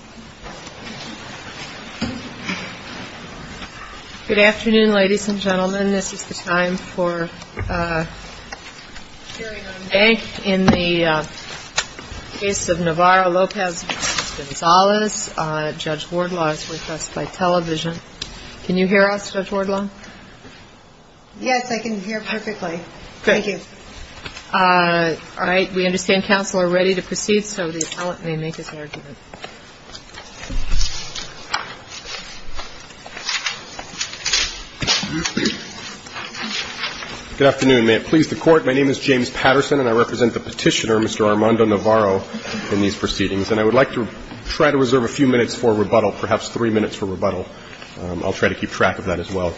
Judge Wardlaw is with us by television. Can you hear us, Judge Wardlaw? Yes, I can hear perfectly. Thank you. All right. We understand counsel are ready to proceed, so the appellant may make his argument. Thank you. Good afternoon. May it please the Court. My name is James Patterson, and I represent the petitioner, Mr. Armando Navarro, in these proceedings. And I would like to try to reserve a few minutes for rebuttal, perhaps three minutes for rebuttal. I'll try to keep track of that as well.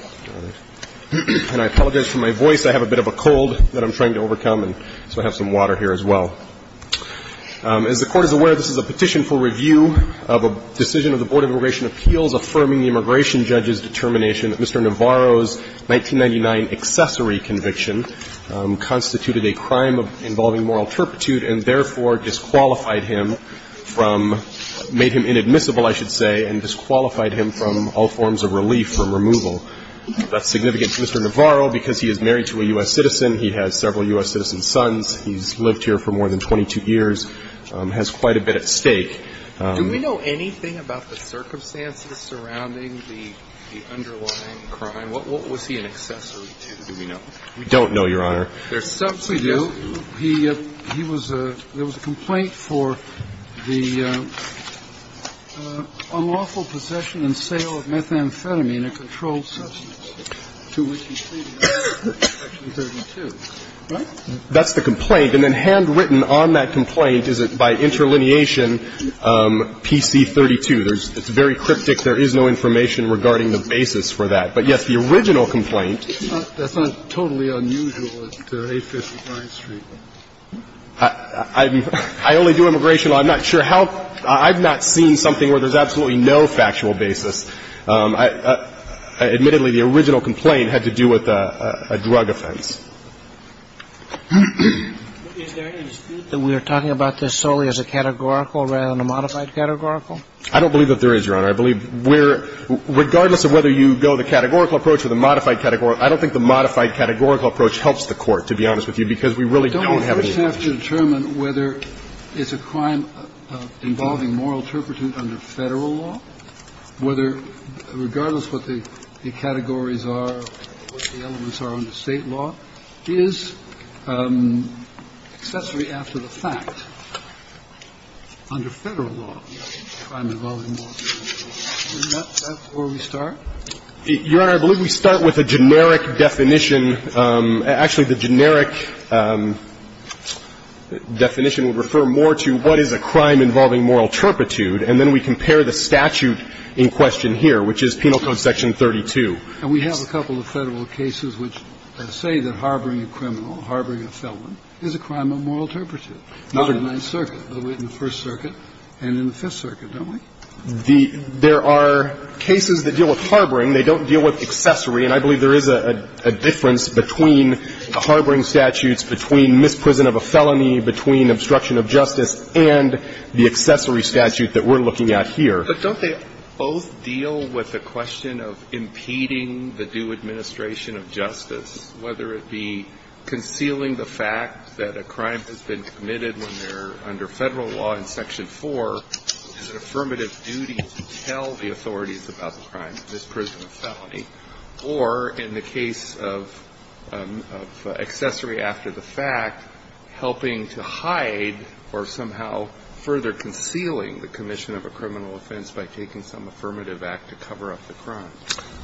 And I apologize for my voice. I have a bit of a cold that I'm trying to overcome, so I have some water here as well. As the Court is aware, this is a petition for review of a decision of the Board of Immigration Appeals affirming the immigration judge's determination that Mr. Navarro's 1999 accessory conviction constituted a crime involving moral turpitude and therefore disqualified him from – made him inadmissible, I should say, and disqualified him from all forms of relief from removal. That's significant to Mr. Navarro because he is married to a U.S. citizen, he has several U.S. citizen sons, he's lived here for more than 22 years, has quite a bit at stake. Do we know anything about the circumstances surrounding the underlying crime? What was he an accessory to, do we know? We don't know, Your Honor. There's something we do. There was a complaint for the unlawful possession and sale of methamphetamine, a controlled substance, to which he pleaded in Section 32, right? That's the complaint. And then handwritten on that complaint is it by interlineation PC-32. It's very cryptic. There is no information regarding the basis for that. But, yes, the original complaint. That's not totally unusual at 850 Bryant Street. I only do immigration law. I'm not sure how – I've not seen something where there's absolutely no factual basis. Admittedly, the original complaint had to do with a drug offense. Is there any dispute that we are talking about this solely as a categorical rather than a modified categorical? I don't believe that there is, Your Honor. I believe we're – regardless of whether you go the categorical approach or the modified categorical, I don't think the modified categorical approach helps the Court, to be honest with you, because we really don't have any knowledge. Don't we first have to determine whether it's a crime involving moral turpitude under Federal law, whether, regardless what the categories are, what the elements are under State law, is accessory after the fact under Federal law, a crime involving moral turpitude. Is that where we start? Your Honor, I believe we start with a generic definition. Actually, the generic definition would refer more to what is a crime involving moral turpitude, and then we compare the statute in question here, which is Penal Code Section 32. And we have a couple of Federal cases which say that harboring a criminal, harboring a felon, is a crime of moral turpitude. Not in the Ninth Circuit, but in the First Circuit and in the Fifth Circuit, don't we? There are cases that deal with harboring. They don't deal with accessory. And I believe there is a difference between the harboring statutes, between misprison of a felony, between obstruction of justice, and the accessory statute that we're looking at here. But don't they both deal with the question of impeding the due administration of justice, whether it be concealing the fact that a crime has been committed when they're under Federal law in Section 4, is an affirmative duty to tell the authorities about the crime of misprison of a felony, or in the case of accessory after the fact, helping to hide or somehow further concealing the commission of a criminal offense by taking some affirmative act to cover up the crime?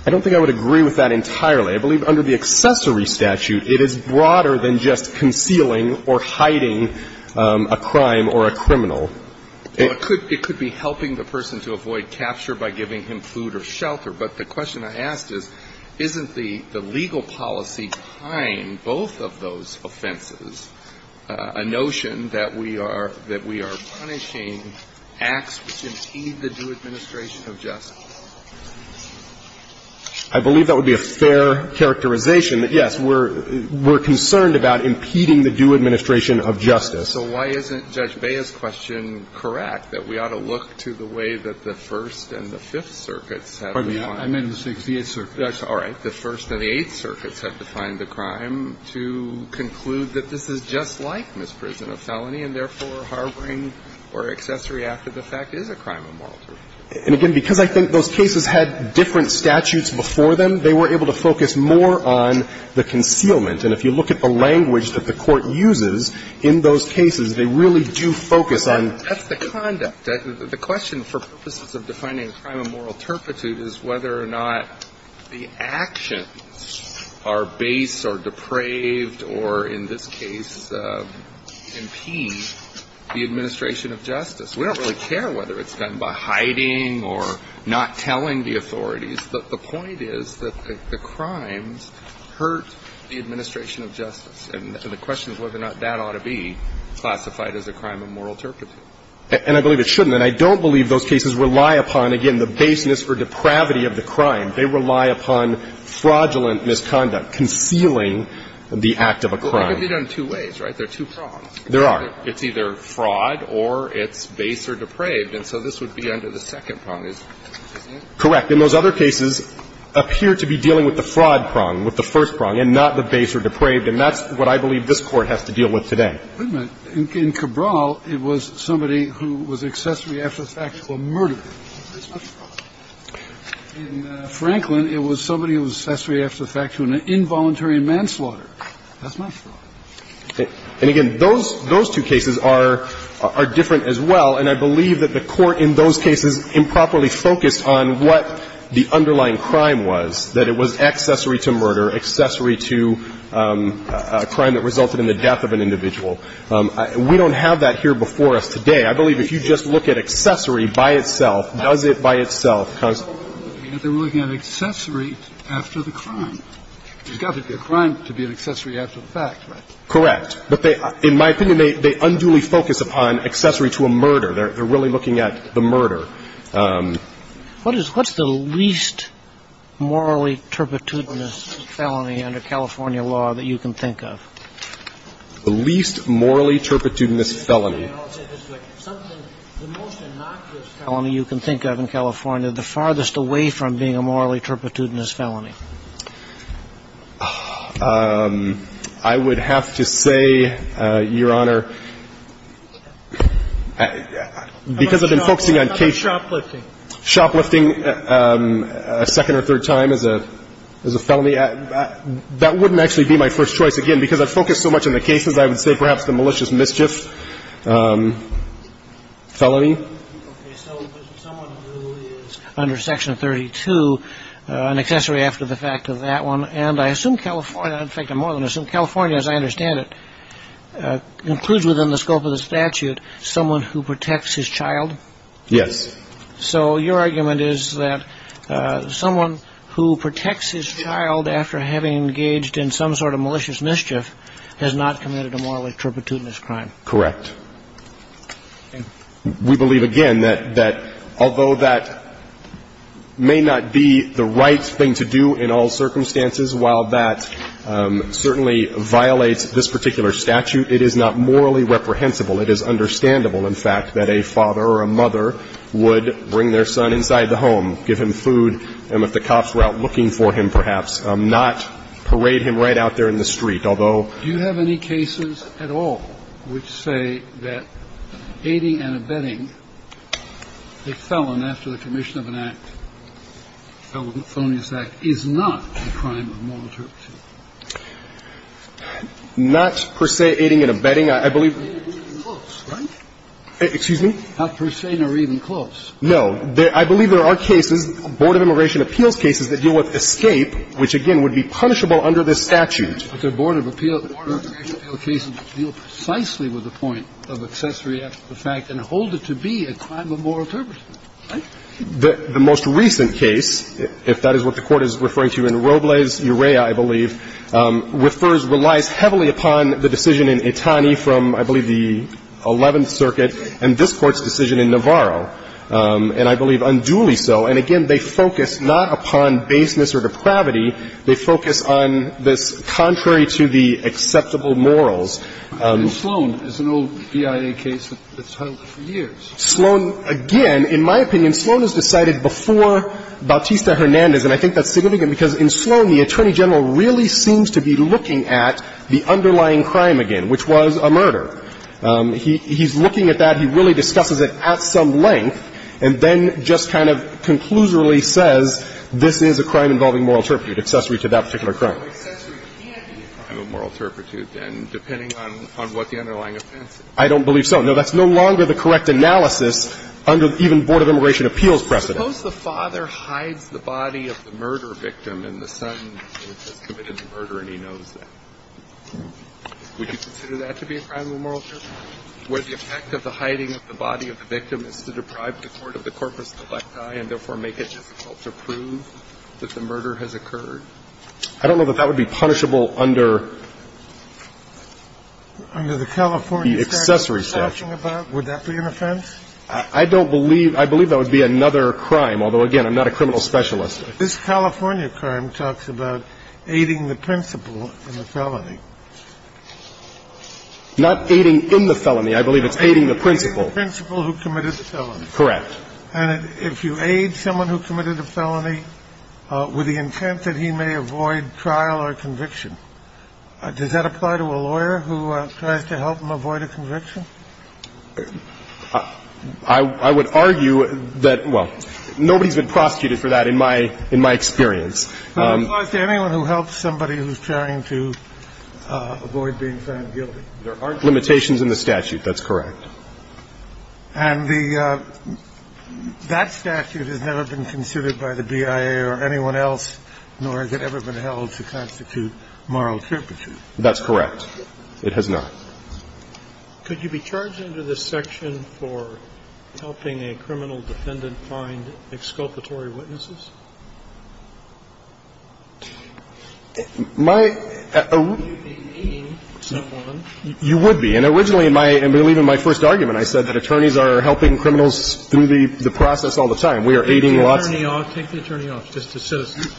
I don't think I would agree with that entirely. I believe under the accessory statute, it is broader than just concealing or hiding a crime or a criminal. It could be helping the person to avoid capture by giving him food or shelter. But the question I asked is, isn't the legal policy behind both of those offenses a notion that we are punishing acts which impede the due administration of justice? I believe that would be a fair characterization. That, yes, we're concerned about impeding the due administration of justice. So why isn't Judge Bea's question correct, that we ought to look to the way that the First and the Fifth Circuits have defined it? I meant the Sixtieth Circuit. All right. The First and the Eighth Circuits have defined the crime to conclude that this is just like misprison of felony, and therefore, harboring or accessory after the fact is a crime of moral jurisdiction. And again, because I think those cases had different statutes before them, they were able to focus more on the concealment. And if you look at the language that the Court uses in those cases, they really do focus on the conduct. The question, for purposes of defining a crime of moral turpitude, is whether or not the actions are base or depraved or, in this case, impede the administration of justice. We don't really care whether it's done by hiding or not telling the authorities. The point is that the crimes hurt the administration of justice, and the question is whether or not that ought to be classified as a crime of moral turpitude. And I believe it shouldn't. And I don't believe those cases rely upon, again, the baseness or depravity of the crime. They rely upon fraudulent misconduct, concealing the act of a crime. But they could be done in two ways, right? There are two prongs. There are. It's either fraud or it's base or depraved. And so this would be under the second prong. Is that correct? Correct. And those other cases appear to be dealing with the fraud prong, with the first prong, and not the base or depraved. And that's what I believe this Court has to deal with today. In Cabral, it was somebody who was accessory after the fact to a murderer. That's not fraud. In Franklin, it was somebody who was accessory after the fact to an involuntary manslaughter. That's not fraud. And, again, those two cases are different as well. And I believe that the Court in those cases improperly focused on what the underlying crime was, that it was accessory to murder, accessory to a crime that resulted in the death of an individual. We don't have that here before us today. I believe if you just look at accessory by itself, does it by itself constitute fraud? They were looking at accessory after the crime. It's got to be a crime to be an accessory after the fact, right? Correct. But they, in my opinion, they unduly focus upon accessory to a murder. They're really looking at the murder. What is the least morally turpitudinous felony under California law that you can think of? The least morally turpitudinous felony. Something, the most innocuous felony you can think of in California, the farthest away from being a morally turpitudinous felony. I would have to say, Your Honor, because I've been focusing on case shoplifting a second or third time as a felony, that wouldn't actually be my first choice, again, because I've focused so much on the cases. I would say perhaps the malicious mischief felony. Okay, so someone who is under Section 32, an accessory after the fact of that one, and I assume California, in fact, I more than assume California as I understand it, includes within the scope of the statute someone who protects his child? Yes. So your argument is that someone who protects his child after having engaged in some sort of malicious mischief has not committed a morally turpitudinous crime? Correct. And we believe, again, that although that may not be the right thing to do in all circumstances, while that certainly violates this particular statute, it is not morally reprehensible. It is understandable, in fact, that a father or a mother would bring their son inside the home, give him food, and if the cops were out looking for him, perhaps not parade him right out there in the street. Although you have any cases at all which say that aiding and abetting a felon after the commission of an act, a felonious act, is not a crime of moral turpitude? Not per se aiding and abetting. I believe we're even close, right? Excuse me? Not per se nor even close. No. I believe there are cases, Board of Immigration Appeals cases, that deal with escape, which, again, would be punishable under this statute. But there are Board of Immigration Appeals cases that deal precisely with the point of accessory after the fact and hold it to be a crime of moral turpitude. Right? The most recent case, if that is what the Court is referring to, in Robles-Urea, I believe, refers, relies heavily upon the decision in Itani from, I believe, the Eleventh Circuit and this Court's decision in Navarro, and I believe unduly And again, they focus not upon baseness or depravity. They focus on this contrary to the acceptable morals. In Sloan, there's an old BIA case that's held for years. Sloan, again, in my opinion, Sloan is decided before Bautista-Hernandez, and I think that's significant because in Sloan, the Attorney General really seems to be looking at the underlying crime again, which was a murder. He's looking at that. He really discusses it at some length, and then just kind of conclusorily says this is a crime involving moral turpitude, accessory to that particular crime. The only accessory can be a crime of moral turpitude, then, depending on what the underlying offense is. I don't believe so. No, that's no longer the correct analysis under even Board of Immigration Appeals precedent. Suppose the father hides the body of the murder victim and the son has committed the murder and he knows that. Would you consider that to be a crime of moral turpitude? Would the effect of the hiding of the body of the victim is to deprive the court of the corpus delicti and, therefore, make it difficult to prove that the murder has occurred? I don't know that that would be punishable under the accessory statute. Under the California statute you're talking about, would that be an offense? I don't believe – I believe that would be another crime, although, again, I'm not a criminal specialist. This California crime talks about aiding the principal in the felony. Not aiding in the felony. I believe it's aiding the principal. Aiding the principal who committed the felony. Correct. And if you aid someone who committed a felony with the intent that he may avoid trial or conviction, does that apply to a lawyer who tries to help him avoid a conviction? I would argue that – well, nobody's been prosecuted for that in my experience. It applies to anyone who helps somebody who's trying to avoid being found guilty. There aren't limitations in the statute. That's correct. And the – that statute has never been considered by the BIA or anyone else, nor has it ever been held to constitute moral trepidation. That's correct. It has not. Could you be charged under this section for helping a criminal defendant find exculpatory witnesses? My – you would be. And originally in my – I believe in my first argument I said that attorneys are helping criminals through the process all the time. We are aiding lots of them. Take the attorney off. Just assist.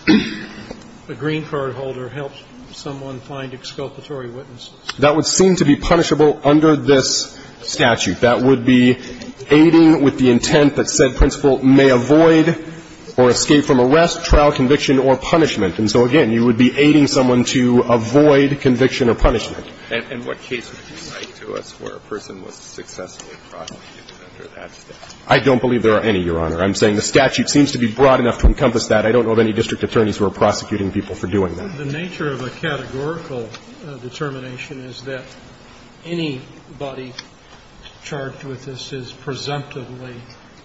A green card holder helps someone find exculpatory witnesses. That would seem to be punishable under this statute. That would be aiding with the intent that said principal may avoid or escape from arrest, trial, conviction, or punishment. And so, again, you would be aiding someone to avoid conviction or punishment. And what case would you cite to us where a person was successfully prosecuted under that statute? I don't believe there are any, Your Honor. I'm saying the statute seems to be broad enough to encompass that. I don't know of any district attorneys who are prosecuting people for doing that. The nature of a categorical determination is that anybody charged with this is presumptively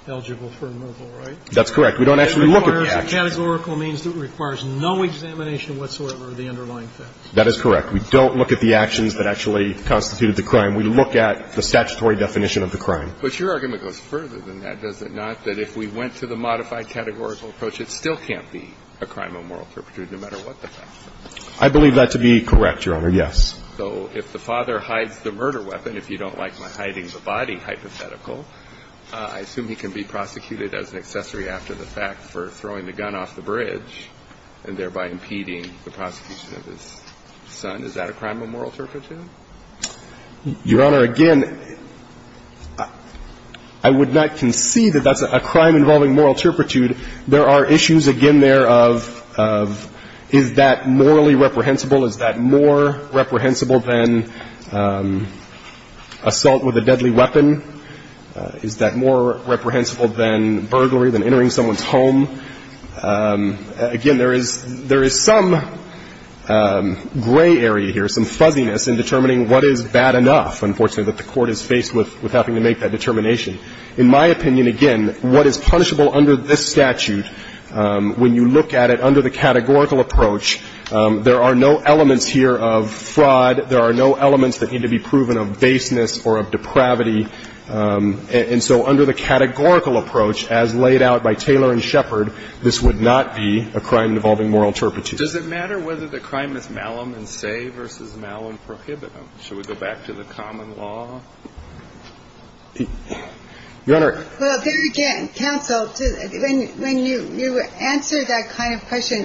eligible for removal, right? That's correct. We don't actually look at the actions. Categorical means it requires no examination whatsoever of the underlying facts. That is correct. We don't look at the actions that actually constituted the crime. We look at the statutory definition of the crime. But your argument goes further than that, does it not, that if we went to the modified categorical approach, it still can't be a crime of moral turpitude no matter what the facts are? I believe that to be correct, Your Honor, yes. So if the father hides the murder weapon, if you don't like my hiding the body hypothetical, I assume he can be prosecuted as an accessory after the fact for throwing the gun off the bridge and thereby impeding the prosecution of his son. Is that a crime of moral turpitude? Your Honor, again, I would not concede that that's a crime involving moral turpitude There are issues again there of is that morally reprehensible? Is that more reprehensible than assault with a deadly weapon? Is that more reprehensible than burglary, than entering someone's home? Again, there is some gray area here, some fuzziness in determining what is bad enough, unfortunately, that the Court is faced with having to make that determination. In my opinion, again, what is punishable under this statute, when you look at it under the categorical approach, there are no elements here of fraud, there are no elements that need to be proven of baseness or of depravity. And so under the categorical approach as laid out by Taylor and Shepard, this would not be a crime involving moral turpitude. Does it matter whether the crime is malum in se versus malum prohibitum? Should we go back to the common law? Your Honor. Well, there again, counsel, when you answer that kind of question,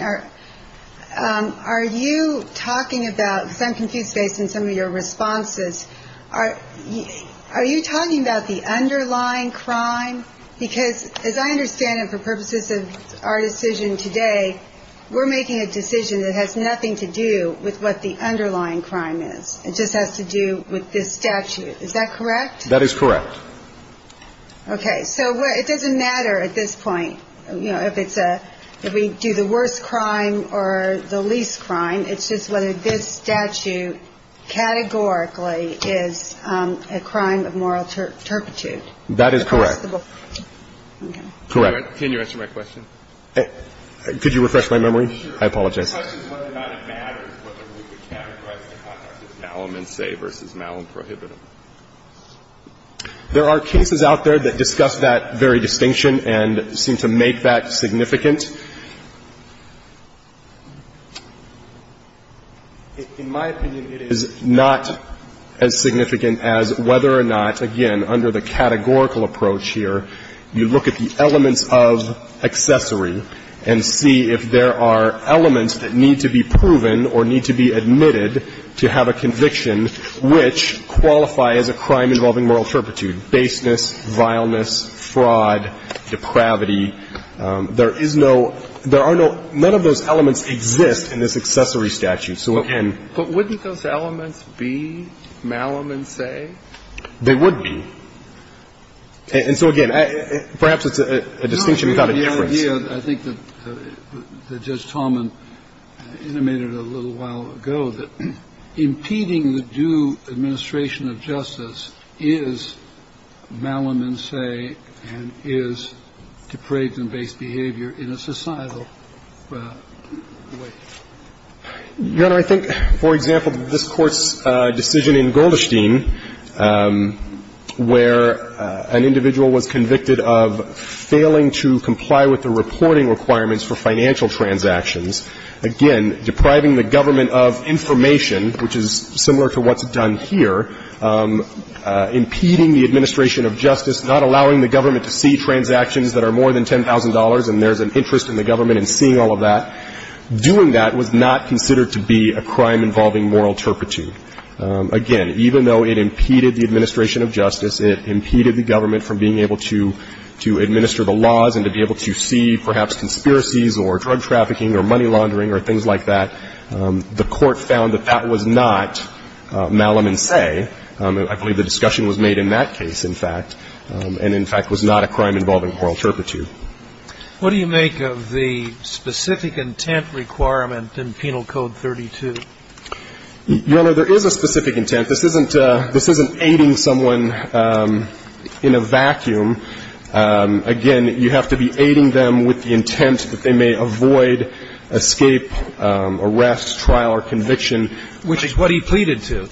are you talking about, because I'm confused based on some of your responses, are you talking about the underlying crime? Because as I understand it, for purposes of our decision today, we're making a decision that has nothing to do with what the underlying crime is. It just has to do with this statute. Is that correct? That is correct. Okay. So it doesn't matter at this point, you know, if it's a, if we do the worst crime or the least crime, it's just whether this statute categorically is a crime of moral turpitude. That is correct. Okay. Correct. Can you answer my question? Could you refresh my memory? I apologize. My question is whether or not it matters whether we would categorize the contract as malum in se versus malum prohibitum. There are cases out there that discuss that very distinction and seem to make that significant. In my opinion, it is not as significant as whether or not, again, under the categorical approach here, you look at the elements of accessory and see if there are elements that need to be proven or need to be admitted to have a conviction which qualify as a crime involving moral turpitude, baseness, vileness, fraud, depravity. There is no, there are no, none of those elements exist in this accessory statute. But wouldn't those elements be malum in se? They would be. And so, again, perhaps it's a distinction without a difference. The idea, I think, that Judge Taubman intimated a little while ago, that impeding the due administration of justice is malum in se and is depraved and based behavior in a societal way. Your Honor, I think, for example, this Court's decision in Goldestein where an individual was convicted of failing to comply with the reporting requirements for financial transactions, again, depriving the government of information, which is similar to what's done here, impeding the administration of justice, not allowing the government to see transactions that are more than $10,000 and there's an interest in the government seeing all of that, doing that was not considered to be a crime involving moral turpitude. Again, even though it impeded the administration of justice, it impeded the government from being able to administer the laws and to be able to see, perhaps, conspiracies or drug trafficking or money laundering or things like that, the Court found that that was not malum in se. I believe the discussion was made in that case, in fact, and, in fact, was not a crime involving moral turpitude. What do you make of the specific intent requirement in Penal Code 32? Your Honor, there is a specific intent. This isn't aiding someone in a vacuum. Again, you have to be aiding them with the intent that they may avoid escape, arrest, trial or conviction. Which is what he pleaded to.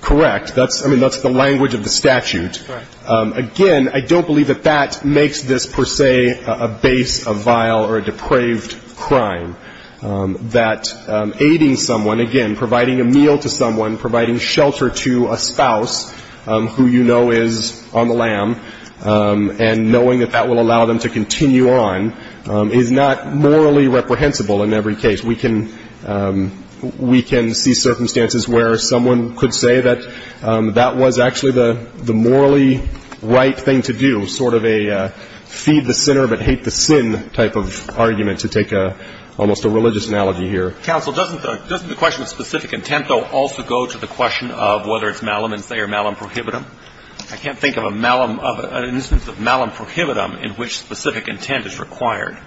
Correct. I mean, that's the language of the statute. Right. Again, I don't believe that that makes this, per se, a base, a vial or a depraved crime. That aiding someone, again, providing a meal to someone, providing shelter to a spouse who you know is on the lam and knowing that that will allow them to continue on is not morally reprehensible in every case. We can see circumstances where someone could say that that was actually the morally right thing to do, sort of a feed the sinner but hate the sin type of argument to take almost a religious analogy here. Counsel, doesn't the question of specific intent, though, also go to the question of whether it's malum in se or malum prohibitum? I can't think of an instance of malum prohibitum in which specific intent is required.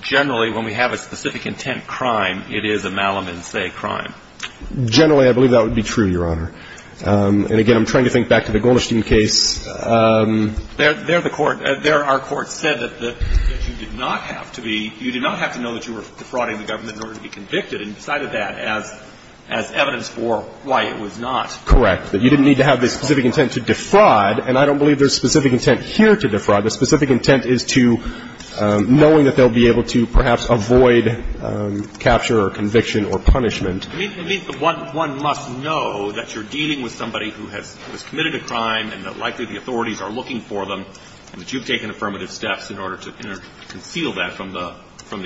Generally, when we have a specific intent crime, it is a malum in se crime. Generally, I believe that would be true, Your Honor. And again, I'm trying to think back to the Golderstein case. There the Court, there our Court said that you did not have to be, you did not have to know that you were defrauding the government in order to be convicted and decided that as evidence for why it was not. Correct. That you didn't need to have the specific intent to defraud. And I don't believe there's specific intent here to defraud. The specific intent is to knowing that they'll be able to perhaps avoid capture or conviction or punishment. It means that one must know that you're dealing with somebody who has committed a crime and that likely the authorities are looking for them, and that you've taken affirmative steps in order to conceal that from the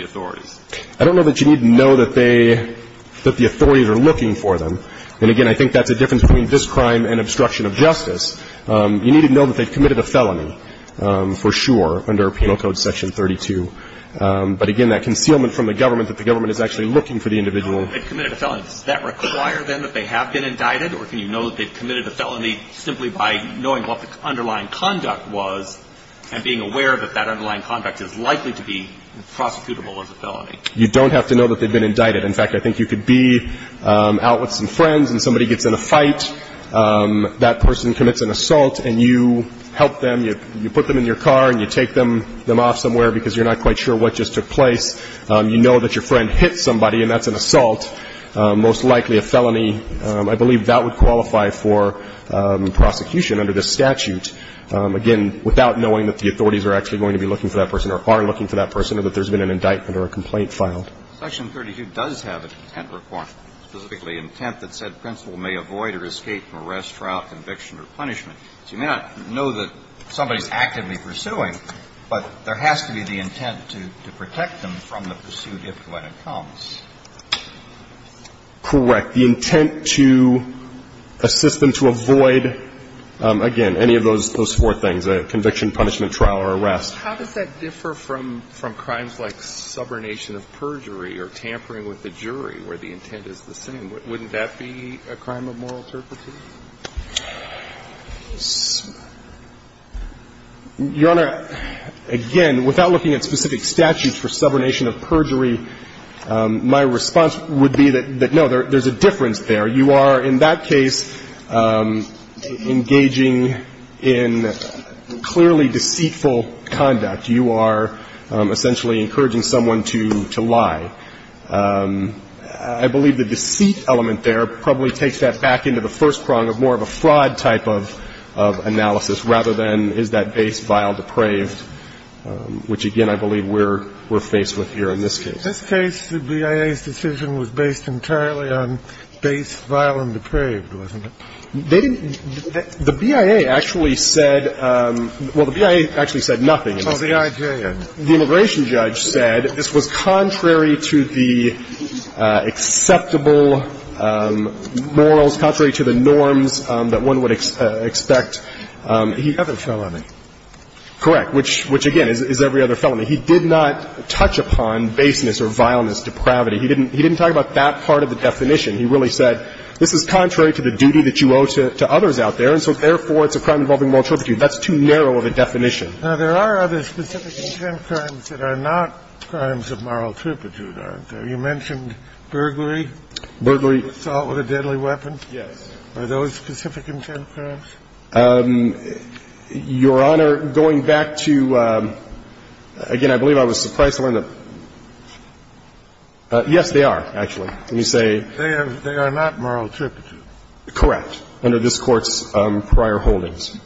authorities. I don't know that you need to know that they, that the authorities are looking for them. And again, I think that's a difference between this crime and obstruction of justice. You need to know that they've committed a felony, for sure, under Penal Code Section 32. But again, that concealment from the government, that the government is actually looking for the individual. They've committed a felony. Does that require, then, that they have been indicted? Or can you know that they've committed a felony simply by knowing what the underlying conduct was and being aware that that underlying conduct is likely to be prosecutable as a felony? You don't have to know that they've been indicted. In fact, I think you could be out with some friends, and somebody gets in a fight. That person commits an assault, and you help them. You put them in your car, and you take them off somewhere because you're not quite sure what just took place. You know that your friend hit somebody, and that's an assault, most likely a felony. I believe that would qualify for prosecution under this statute, again, without knowing that the authorities are actually going to be looking for that person or are looking for that person or that there's been an indictment or a complaint filed. Section 32 does have an intent requirement, specifically intent that said principal may avoid or escape from arrest, trial, conviction, or punishment. So you may not know that somebody's actively pursuing, but there has to be the intent to protect them from the pursuit if and when it comes. Correct. The intent to assist them to avoid, again, any of those four things, conviction, punishment, trial, or arrest. How does that differ from crimes like subornation of perjury or tampering with the jury, where the intent is the same? Wouldn't that be a crime of moral turpitude? Your Honor, again, without looking at specific statutes for subornation of perjury, my response would be that, no, there's a difference there. You are, in that case, engaging in clearly deceitful conduct. You are essentially encouraging someone to lie. I believe the deceit element there probably takes that back into the first procedure of the case. I think it's more of a fraud type of analysis rather than is that base vile depraved, which, again, I believe we're faced with here in this case. In this case, the BIA's decision was based entirely on base vile and depraved, wasn't it? They didn't – the BIA actually said – well, the BIA actually said nothing. Oh, the IJN. The immigration judge said this was contrary to the acceptable morals, contrary to the norms that one would expect. You have a felony. Correct. Which, again, is every other felony. He did not touch upon baseness or vileness, depravity. He didn't talk about that part of the definition. He really said this is contrary to the duty that you owe to others out there, and so, therefore, it's a crime involving moral turpitude. That's too narrow of a definition. Now, there are other specific intent crimes that are not crimes of moral turpitude, aren't there? You mentioned burglary. Burglary. Assault with a deadly weapon. Yes. Are those specific intent crimes? Your Honor, going back to – again, I believe I was surprised to learn that – yes, they are, actually. Let me say. They are not moral turpitude. Correct, under this Court's prior holdings.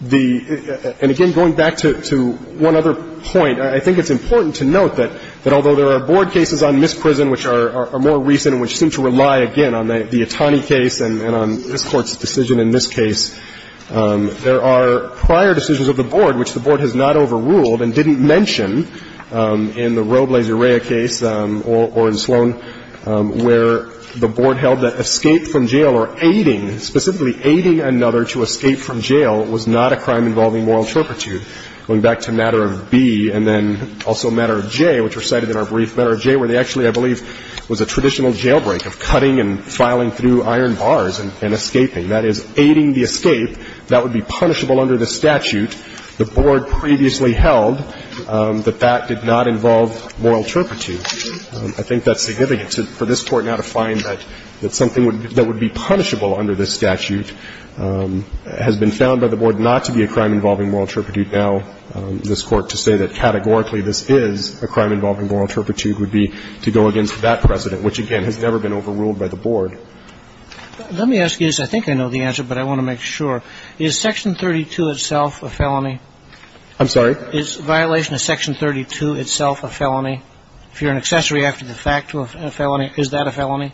The – and, again, going back to one other point, I think it's important to note that although there are Board cases on Miss Prison which are more recent and which seem to rely, again, on the Itani case and on this Court's decision in this case, there are prior decisions of the Board which the Board has not overruled and didn't in the Roe v. Laserea case or in Sloan where the Board held that escape from jail or aiding, specifically aiding another to escape from jail, was not a crime involving moral turpitude. Going back to Matter of B and then also Matter of J, which were cited in our brief, Matter of J, where they actually, I believe, was a traditional jailbreak of cutting and filing through iron bars and escaping. That is, aiding the escape. That would be punishable under the statute the Board previously held that that did not involve moral turpitude. I think that's significant for this Court now to find that something that would be punishable under this statute has been found by the Board not to be a crime involving moral turpitude. Now, this Court to say that categorically this is a crime involving moral turpitude would be to go against that precedent, which, again, has never been overruled by the Board. Let me ask you this. I think I know the answer, but I want to make sure. Is Section 32 itself a felony? I'm sorry? Is violation of Section 32 itself a felony? If you're an accessory after the fact to a felony, is that a felony?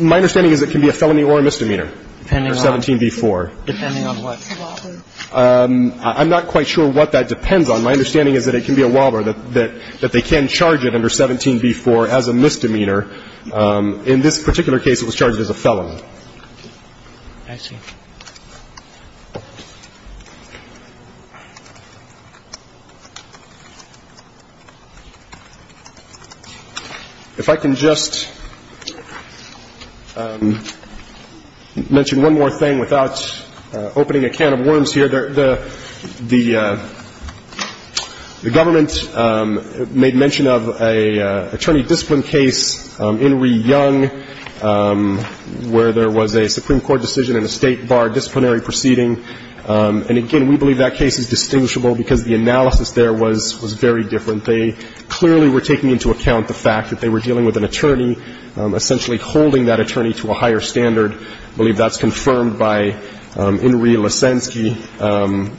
My understanding is it can be a felony or a misdemeanor under 17b-4. Depending on what? I'm not quite sure what that depends on. My understanding is that it can be a WALBR, that they can charge it under 17b-4 as a misdemeanor. In this particular case, it was charged as a felony. I see. If I can just mention one more thing without opening a can of worms here. The government made mention of an attorney discipline case, Inree Young, where there was a Supreme Court decision in a State bar disciplinary proceeding. And, again, we believe that case is distinguishable because the analysis there was very different. They clearly were taking into account the fact that they were dealing with an attorney essentially holding that attorney to a higher standard. I believe that's confirmed by Inree Leszczynski,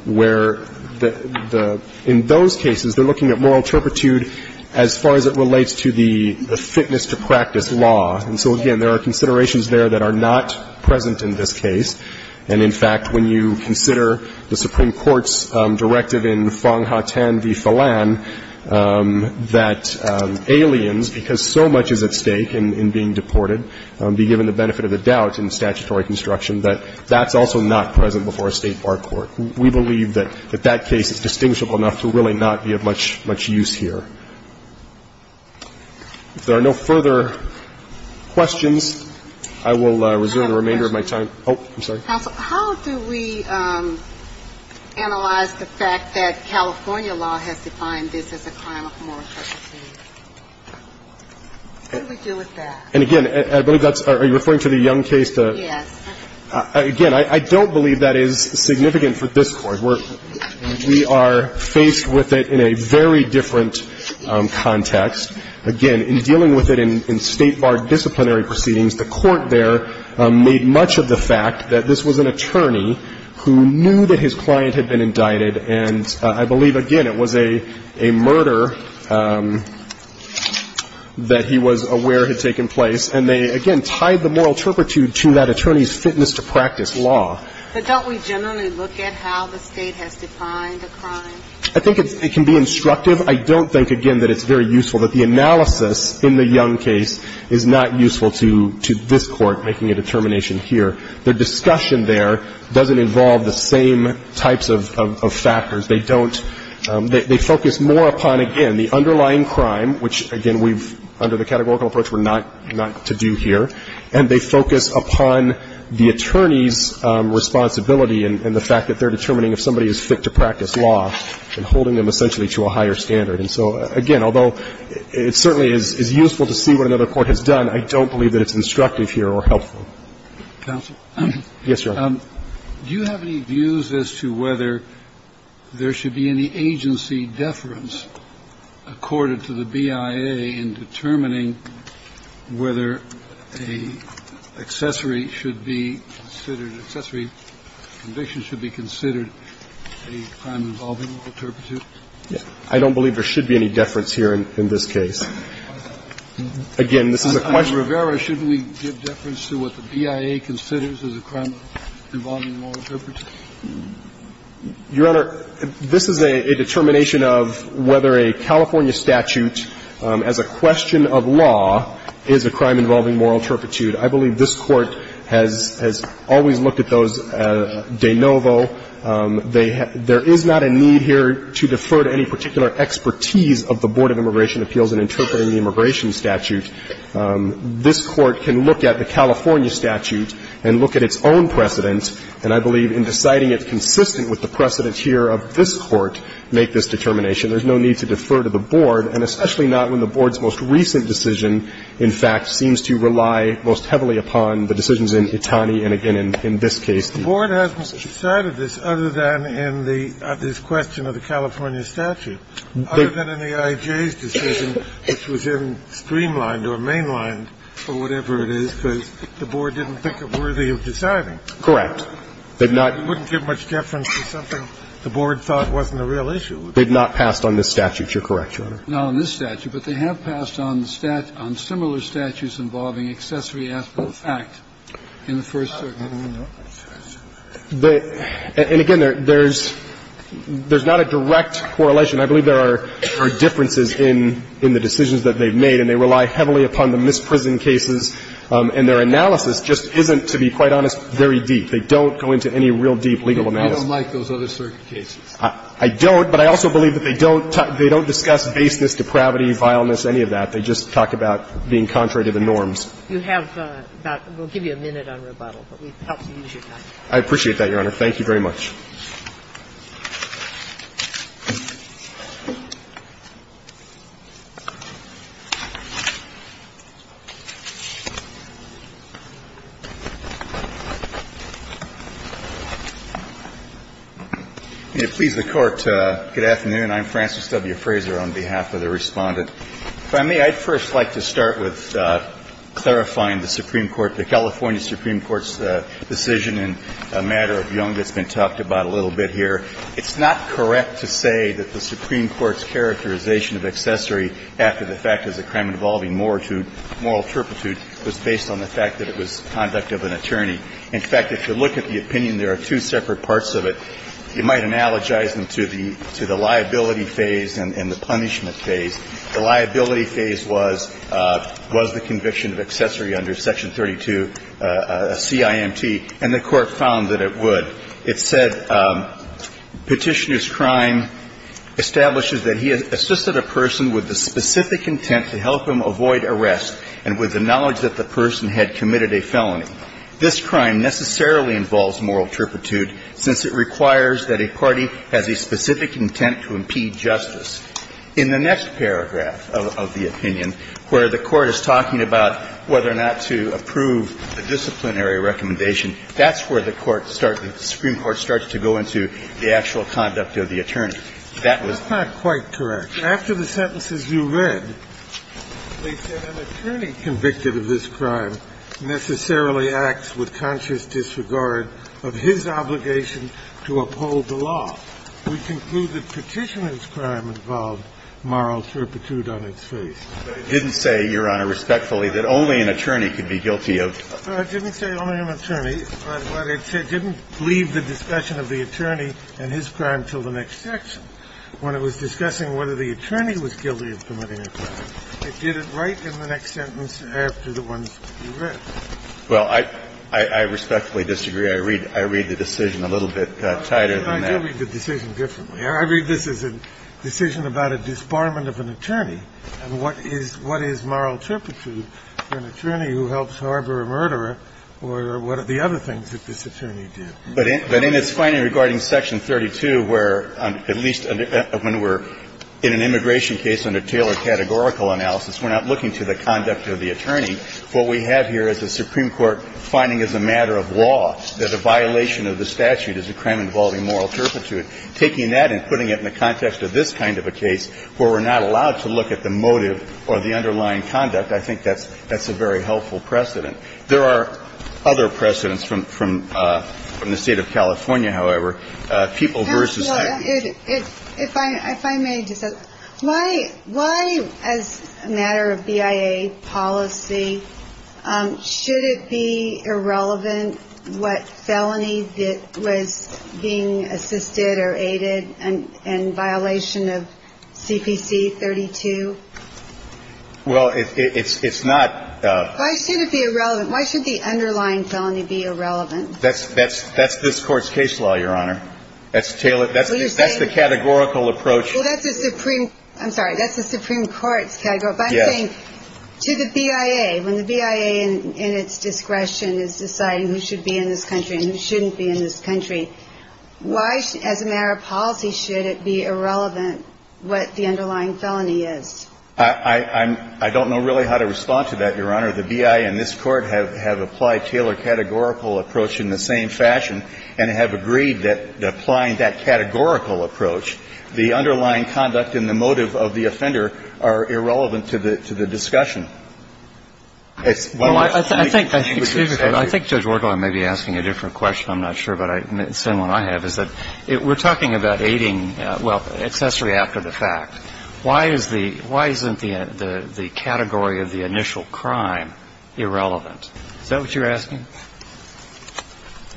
where the – in those cases, they're looking at moral turpitude as far as it relates to the fitness-to-practice law. And so, again, there are considerations there that are not present in this case. And, in fact, when you consider the Supreme Court's directive in Fong-Ha Tan v. Fallan that aliens, because so much is at stake in being deported, be given the benefit of the doubt in statutory construction, that that's also not present before a State bar court. We believe that that case is distinguishable enough to really not be of much use here. If there are no further questions, I will resume the remainder of my time. Oh, I'm sorry. Counsel, how do we analyze the fact that California law has defined this as a crime of moral turpitude? What do we do with that? And, again, I believe that's – are you referring to the Young case? Yes. Again, I don't believe that is significant for this Court. We are faced with it in a very different context. Again, in dealing with it in State bar disciplinary proceedings, the Court there made much of the fact that this was an attorney who knew that his client had been indicted. And I believe, again, it was a murder that he was aware had taken place, and they, again, tied the moral turpitude to that attorney's fitness to practice law. But don't we generally look at how the State has defined a crime? I think it can be instructive. I don't think, again, that it's very useful, that the analysis in the Young case is not useful to this Court making a determination here. Their discussion there doesn't involve the same types of factors. They don't – they focus more upon, again, the underlying crime, which, again, we've – under the categorical approach, we're not to do here. And they focus upon the attorney's responsibility and the fact that they're determining if somebody is fit to practice law and holding them essentially to a higher standard. And so, again, although it certainly is useful to see what another Court has done, I don't believe that it's instructive here or helpful. Counsel? Yes, Your Honor. Do you have any views as to whether there should be any agency deference accorded to the BIA in determining whether an accessory should be considered – an accessory conviction should be considered a crime involving moral turpitude? I don't believe there should be any deference here in this case. Again, this is a question of – The BIA considers as a crime involving moral turpitude? Your Honor, this is a determination of whether a California statute as a question of law is a crime involving moral turpitude. I believe this Court has – has always looked at those de novo. They – there is not a need here to defer to any particular expertise of the Board of Immigration Appeals in interpreting the immigration statute. This Court can look at the California statute and look at its own precedent, and I believe in deciding it consistent with the precedent here of this Court, make this determination. There's no need to defer to the Board, and especially not when the Board's most recent decision, in fact, seems to rely most heavily upon the decisions in Itani and, again, in this case, the – The Board hasn't decided this other than in the – this question of the California statute, other than in the IJ's decision, which was in streamlined or mainlined or whatever it is, because the Board didn't think it worthy of deciding. Correct. They've not – It wouldn't give much deference to something the Board thought wasn't a real issue. They've not passed on this statute. You're correct, Your Honor. No, on this statute. But they have passed on the – on similar statutes involving accessory after the fact in the first – And, again, there's – there's not a direct correlation. I believe there are differences in the decisions that they've made, and they rely heavily upon the misprison cases, and their analysis just isn't, to be quite honest, very deep. They don't go into any real deep legal analysis. You don't like those other circuit cases? I don't, but I also believe that they don't discuss baseness, depravity, vileness, any of that. They just talk about being contrary to the norms. You have about – we'll give you a minute on rebuttal, but we hope to use your time. I appreciate that, Your Honor. Thank you very much. Please, the Court. Good afternoon. I'm Francis W. Fraser on behalf of the Respondent. If I may, I'd first like to start with clarifying the Supreme Court, the California Supreme Court's decision in a matter of young that's been talked about a little bit here. It's not correct to say that the Supreme Court's characterization of accessory after the fact as a crime involving moral turpitude was based on the fact that it was conduct of an attorney. In fact, if you look at the opinion, there are two separate parts of it. You might analogize them to the – to the liability phase and the punishment phase. The liability phase was – was the conviction of accessory under Section 32 CIMT, and the Court found that it would. It said Petitioner's crime establishes that he assisted a person with the specific intent to help him avoid arrest and with the knowledge that the person had committed a felony. This crime necessarily involves moral turpitude since it requires that a party has a specific intent to impede justice. In the next paragraph of the opinion, where the Court is talking about whether or not to approve a disciplinary recommendation, that's where the Court start – the Supreme Court starts to go into the actual conduct of the attorney. That was not quite correct. After the sentences you read, they said an attorney convicted of this crime necessarily acts with conscious disregard of his obligation to uphold the law. We conclude that Petitioner's crime involved moral turpitude on its face. But it didn't say, Your Honor, respectfully, that only an attorney could be guilty of – Well, it didn't say only an attorney, but it didn't leave the discussion of the attorney and his crime until the next section. When it was discussing whether the attorney was guilty of committing a crime, it did it right in the next sentence after the ones you read. Well, I – I respectfully disagree. I read – I read the decision a little bit tighter than that. But I do read the decision differently. I read this as a decision about a disbarment of an attorney and what is – what is moral turpitude for an attorney who helps harbor a murderer or what are the other things that this attorney did. But in its finding regarding Section 32, where at least when we're in an immigration case under Taylor categorical analysis, we're not looking to the conduct of the attorney. What we have here is the Supreme Court finding as a matter of law that a violation of the statute is a crime involving moral turpitude. Taking that and putting it in the context of this kind of a case where we're not allowed to look at the motive or the underlying conduct, I think that's – that's a very helpful precedent. There are other precedents from – from the State of California, however, people versus attorneys. It – it – if I – if I may just – why – why as a matter of BIA policy, should it be irrelevant what felony that was being assisted or aided and – and violation of CPC 32? Well, it – it's – it's not. Why should it be irrelevant? Why should the underlying felony be irrelevant? That's – that's – that's this Court's case law, Your Honor. That's Taylor – that's Taylor's case law. That's the categorical approach. Well, that's the Supreme – I'm sorry. That's the Supreme Court's category. Yes. But I'm saying to the BIA, when the BIA in – in its discretion is deciding who should be in this country and who shouldn't be in this country, why, as a matter of policy, should it be irrelevant what the underlying felony is? I – I – I'm – I don't know really how to respond to that, Your Honor. The BIA and this Court have – have applied Taylor categorical approach in the same underlying conduct and the motive of the offender are irrelevant to the – to the discussion. It's – Well, I think – excuse me. I think Judge Wargill may be asking a different question. I'm not sure, but I – the same one I have is that we're talking about aiding – well, accessory after the fact. Why is the – why isn't the – the category of the initial crime irrelevant? Is that what you're asking?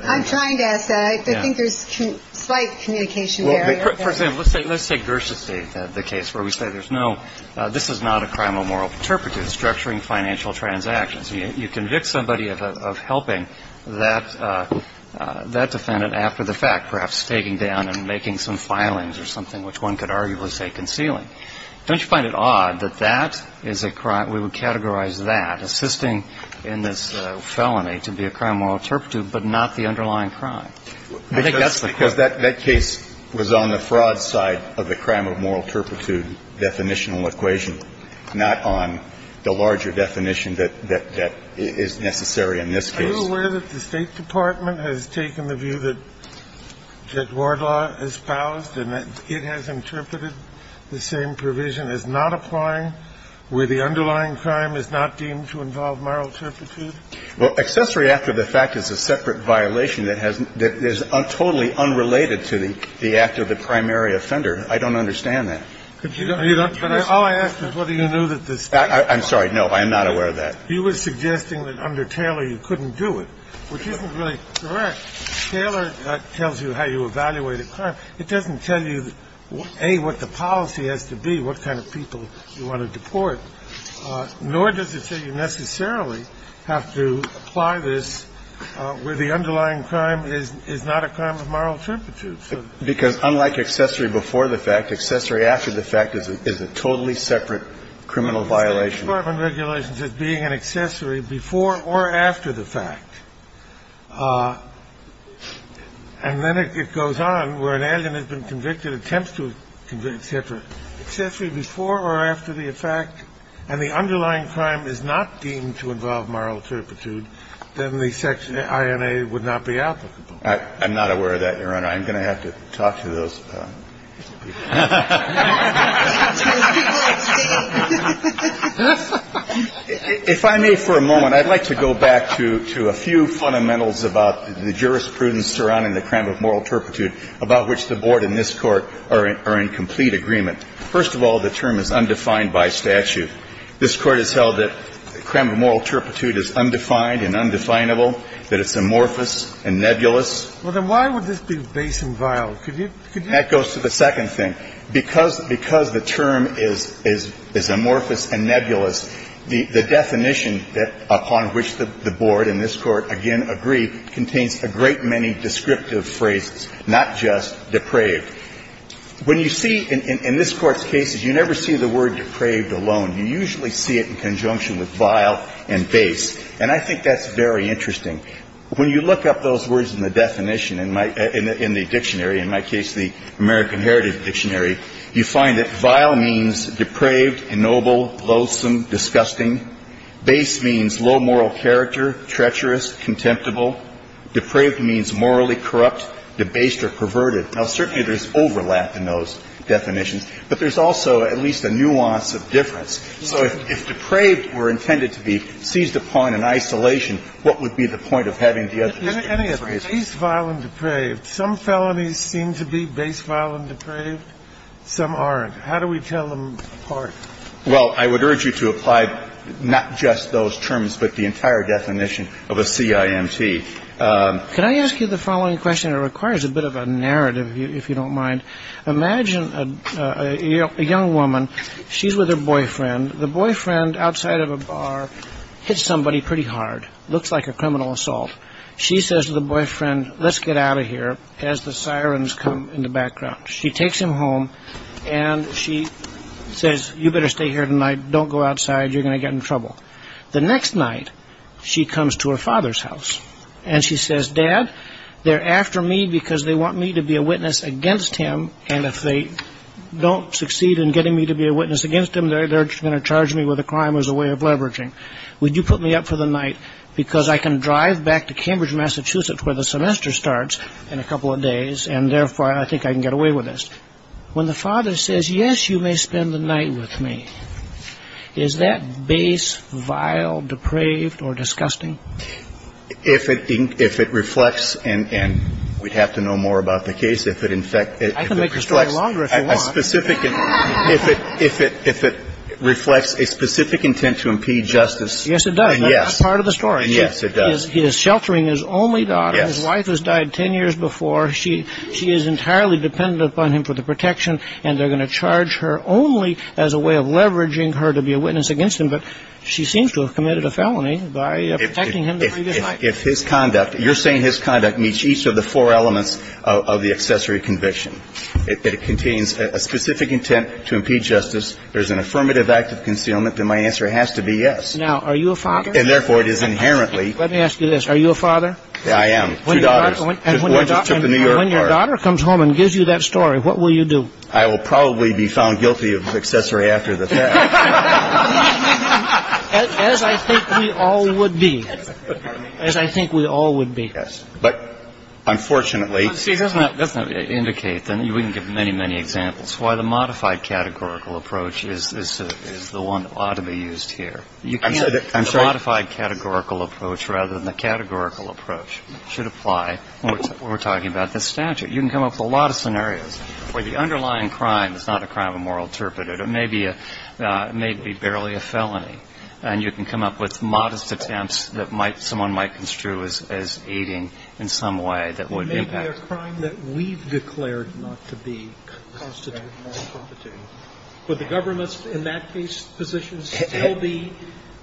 I'm trying to ask that. I think there's slight communication there. For example, let's take – let's take Gersh's case, the case where we say there's no – this is not a crime of moral turpitude, structuring financial transactions. You convict somebody of helping that – that defendant after the fact, perhaps taking down and making some filings or something, which one could arguably say concealing. Don't you find it odd that that is a crime – we would categorize that, assisting in this felony to be a crime of moral turpitude, but not the underlying crime? I think that's the question. Because that – that case was on the fraud side of the crime of moral turpitude definitional equation, not on the larger definition that – that is necessary in this case. Are you aware that the State Department has taken the view that – that Ward Law espoused and that it has interpreted the same provision as not applying where the underlying crime is not deemed to involve moral turpitude? Well, accessory after the fact is a separate violation that has – that is totally unrelated to the act of the primary offender. I don't understand that. But you don't – you don't – But all I ask is whether you knew that the State Department – I'm sorry. No, I am not aware of that. You were suggesting that under Taylor you couldn't do it, which isn't really correct. Taylor tells you how you evaluate a crime. It doesn't tell you, A, what the policy has to be, what kind of people you want to deport. Nor does it say you necessarily have to apply this where the underlying crime is not a crime of moral turpitude. Because unlike accessory before the fact, accessory after the fact is a totally separate criminal violation. The State Department regulations as being an accessory before or after the fact. And then it goes on where an alien has been convicted, attempts to convict, et cetera. If an accessory before or after the fact and the underlying crime is not deemed to involve moral turpitude, then the section INA would not be applicable. I'm not aware of that, Your Honor. I'm going to have to talk to those people. If I may for a moment, I'd like to go back to a few fundamentals about the jurisprudence surrounding the crime of moral turpitude about which the Board and this Court are in complete agreement. First of all, the term is undefined by statute. This Court has held that the crime of moral turpitude is undefined and undefinable, that it's amorphous and nebulous. Well, then why would this be base and vile? Could you do that? That goes to the second thing. Because the term is amorphous and nebulous, the definition upon which the Board and this Court, again, agree contains a great many descriptive phrases, not just depraved. When you see in this Court's cases, you never see the word depraved alone. You usually see it in conjunction with vile and base. And I think that's very interesting. When you look up those words in the definition in the dictionary, in my case the American Heritage Dictionary, you find that vile means depraved, noble, loathsome, disgusting. Base means low moral character, treacherous, contemptible. Depraved means morally corrupt, debased or perverted. Now, certainly there's overlap in those definitions, but there's also at least a nuance of difference. So if depraved were intended to be seized upon in isolation, what would be the point of having the other descriptive phrases? Any of them. Base, vile and depraved. Some felonies seem to be base, vile and depraved. Some aren't. How do we tell them apart? Well, I would urge you to apply not just those terms, but the entire definition of a CIMT. Can I ask you the following question? It requires a bit of a narrative, if you don't mind. Imagine a young woman. She's with her boyfriend. The boyfriend, outside of a bar, hits somebody pretty hard. Looks like a criminal assault. She says to the boyfriend, let's get out of here, as the sirens come in the background. She takes him home and she says, you better stay here tonight. Don't go outside. You're going to get in trouble. The next night, she comes to her father's house. And she says, Dad, they're after me because they want me to be a witness against him, and if they don't succeed in getting me to be a witness against him, they're going to charge me with a crime as a way of leveraging. Would you put me up for the night? Because I can drive back to Cambridge, Massachusetts, where the semester starts, in a couple of days, and therefore I think I can get away with this. When the father says, yes, you may spend the night with me, is that base, vile, depraved, or disgusting? If it reflects, and we'd have to know more about the case. I can make the story longer if you want. If it reflects a specific intent to impede justice. Yes, it does. That's part of the story. He is sheltering his only daughter. His wife has died 10 years before. She is entirely dependent upon him for the protection, and they're going to charge her only as a way of leveraging her to be a witness against him, but she seems to have committed a felony by protecting him the previous night. If his conduct, you're saying his conduct, meets each of the four elements of the accessory conviction, that it contains a specific intent to impede justice, there's an affirmative act of concealment, then my answer has to be yes. Now, are you a father? And therefore, it is inherently. Let me ask you this. Are you a father? I am. Two daughters. When your daughter comes home and gives you that story, what will you do? I will probably be found guilty of accessory after the fact. As I think we all would be. As I think we all would be. Yes. But unfortunately. See, that doesn't indicate. We can give many, many examples. Why the modified categorical approach is the one that ought to be used here. I'm sorry. The modified categorical approach rather than the categorical approach should apply when we're talking about the statute. You can come up with a lot of scenarios where the underlying crime is not a crime of moral interpretation. It may be barely a felony. And you can come up with modest attempts that someone might construe as aiding in some way that would impact. It may be a crime that we've declared not to be constitutional. Would the government in that case position still be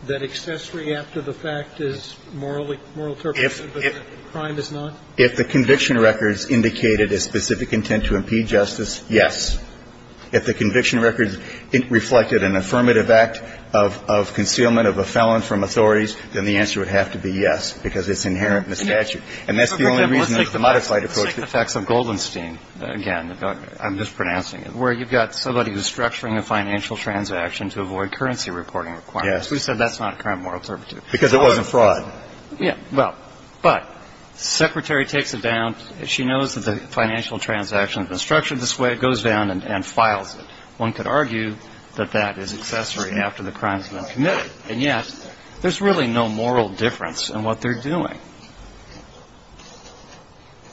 that accessory after the fact is moral interpretation, but the crime is not? If the conviction records indicated a specific intent to impede justice, yes. If the conviction records reflected an affirmative act of concealment of a felon from authorities, then the answer would have to be yes, because it's inherent in the statute. And that's the only reason the modified approach. Let's take the facts of Goldenstein again. I'm just pronouncing it. Where you've got somebody who's structuring a financial transaction to avoid currency reporting requirements. Yes. We said that's not a crime of moral interpretation. Because it wasn't fraud. Well, but the Secretary takes it down. She knows that the financial transaction has been structured this way. It goes down and files it. One could argue that that is accessory after the crime has been committed. And yet, there's really no moral difference in what they're doing.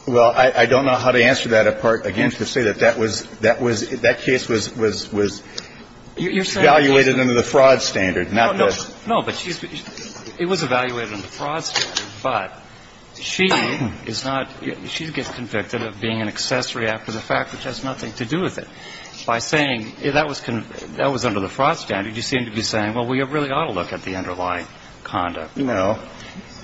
Well, I don't know how to answer that. Again, to say that that was, that case was evaluated under the fraud standard, not the. No, but it was evaluated under the fraud standard. But she is not, she gets convicted of being an accessory after the fact, which has nothing to do with it. By saying that was under the fraud standard, you seem to be saying, well, we really ought to look at the underlying conduct. No.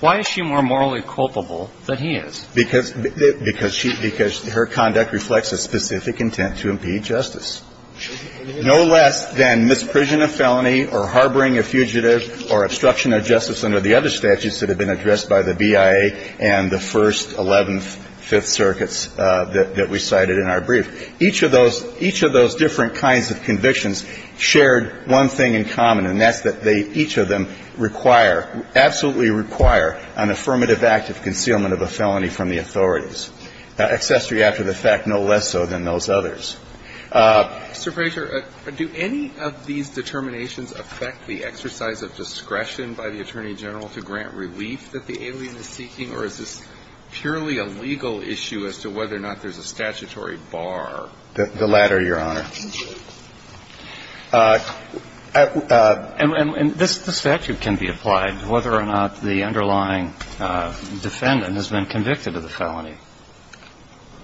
Why is she more morally culpable than he is? Because her conduct reflects a specific intent to impede justice. No less than misprision of felony or harboring a fugitive or obstruction of justice under the other statutes that have been addressed by the BIA and the First, Eleventh, Fifth Circuits that we cited in our brief. Each of those, each of those different kinds of convictions shared one thing in common, and that's that they, each of them require, absolutely require an affirmative act of concealment of a felony from the authorities. Accessory after the fact, no less so than those others. Mr. Frazier, do any of these determinations affect the exercise of discretion by the Attorney General to grant relief that the alien is seeking, or is this purely a legal issue as to whether or not there's a statutory bar? The latter, Your Honor. And this statute can be applied, whether or not the underlying defendant has been convicted of the felony.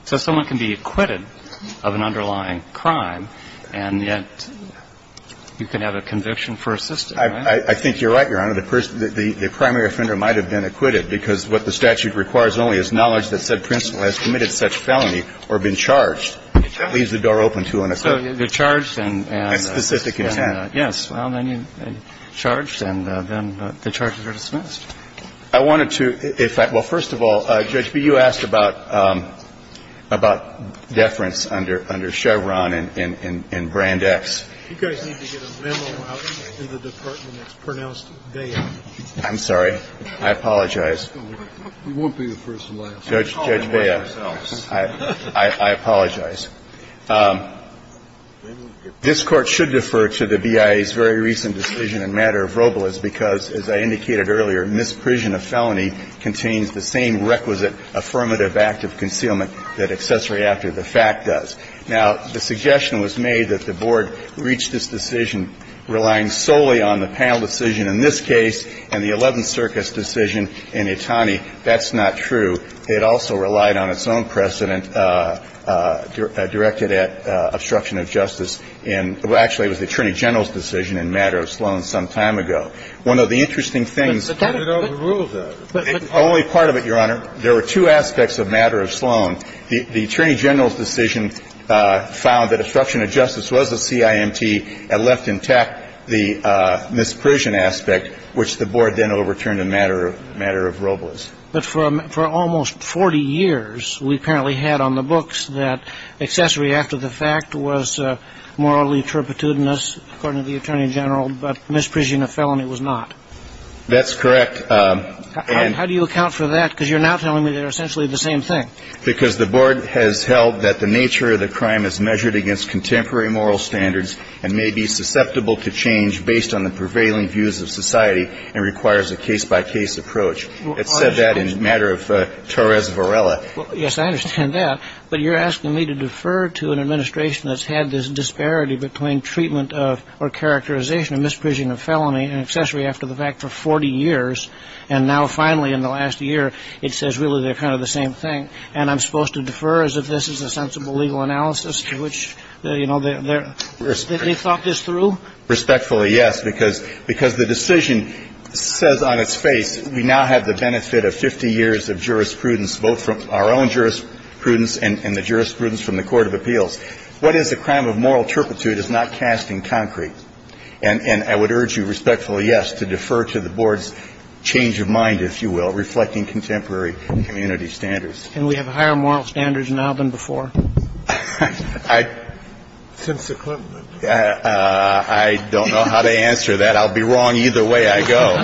So someone can be acquitted of an underlying crime, and yet you can have a conviction for a system, right? I think you're right, Your Honor. The primary offender might have been acquitted because what the statute requires only is knowledge that said principal has committed such felony or been charged leaves the door open to an offense. So they're charged and then the charges are dismissed. I wanted to, if I, well, first of all, Judge B, you asked about deference under Chevron and Brand X. You guys need to get a memo out in the department that's pronounced bad. I'm sorry. I apologize. You won't be the first and last. Judge Bea, I apologize. This Court should defer to the BIA's very recent decision in matter of Robles because, as I indicated earlier, misprision of felony contains the same requisite affirmative act of concealment that accessory after the fact does. Now, the suggestion was made that the Board reach this decision relying solely on the panel decision in this case and the Eleventh Circus decision in Itani. That's not true. It also relied on its own precedent directed at obstruction of justice in, well, in the case of Robles. The Board had a precedent directed at obstruction of justice in the case of Robles. So the interesting thing is that it overruled that. But only part of it, Your Honor. There were two aspects of matter of Sloan. The Attorney General's decision found that obstruction of justice was a CIMT and left intact the misprision aspect, which the Board then overturned in matter of Robles. But for almost 40 years, we apparently had on the books that accessory after the fact was morally turpitudinous, according to the Attorney General, but misprision of felony was not. That's correct. How do you account for that? Because you're now telling me they're essentially the same thing. Because the Board has held that the nature of the crime is measured against contemporary moral standards and may be susceptible to change based on the prevailing views of society and requires a case-by-case approach. It said that in matter of Torres Varela. Yes, I understand that. But you're asking me to defer to an administration that's had this disparity between treatment of or characterization of misprision of felony and accessory after the fact for 40 years, and now finally in the last year it says really they're kind of the same thing. And I'm supposed to defer as if this is a sensible legal analysis to which, you know, they're Yes, I did. I thought this through. You thought this through? Respectfully, yes, because the decision says on its face we now have the benefit of 50 years of jurisprudence, both from our own jurisprudence and the jurisprudence from the court of appeals. What is the crime of moral turpitude? It's not cast in concrete. And I would urge you respectfully, yes, to defer to the board's change of mind, if you will, reflecting contemporary community standards. Can we have higher moral standards now than before? I don't know how to answer that. I'll be wrong either way I go.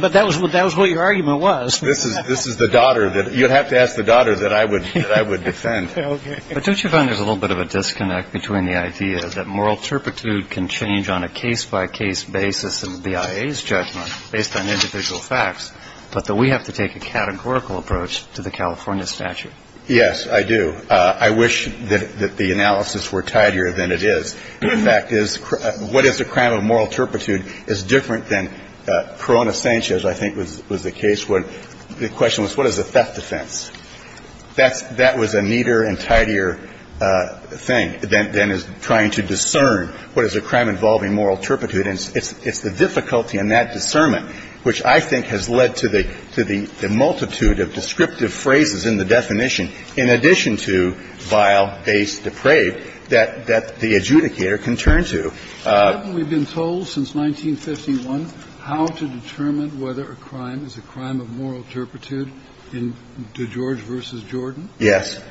But that was what your argument was. This is the daughter that you'll have to ask the daughter that I would defend. But don't you find there's a little bit of a disconnect between the idea that moral turpitude can change on a case-by-case basis in the BIA's judgment based on individual facts, but that we have to take a categorical approach to the California statute? Yes, I do. I wish that the analysis were tidier than it is. In fact, what is the crime of moral turpitude is different than Corona Sanchez, I think, was the case. The question was what is the theft defense? That was a neater and tidier thing than is trying to discern what is a crime involving moral turpitude. And it's the difficulty in that discernment, which I think has led to the multitude of descriptive phrases in the definition, in addition to vile, base, depraved, that the adjudicator can turn to. Haven't we been told since 1951 how to determine whether a crime is a crime of moral turpitude in DeGeorge v. Jordan? Yes.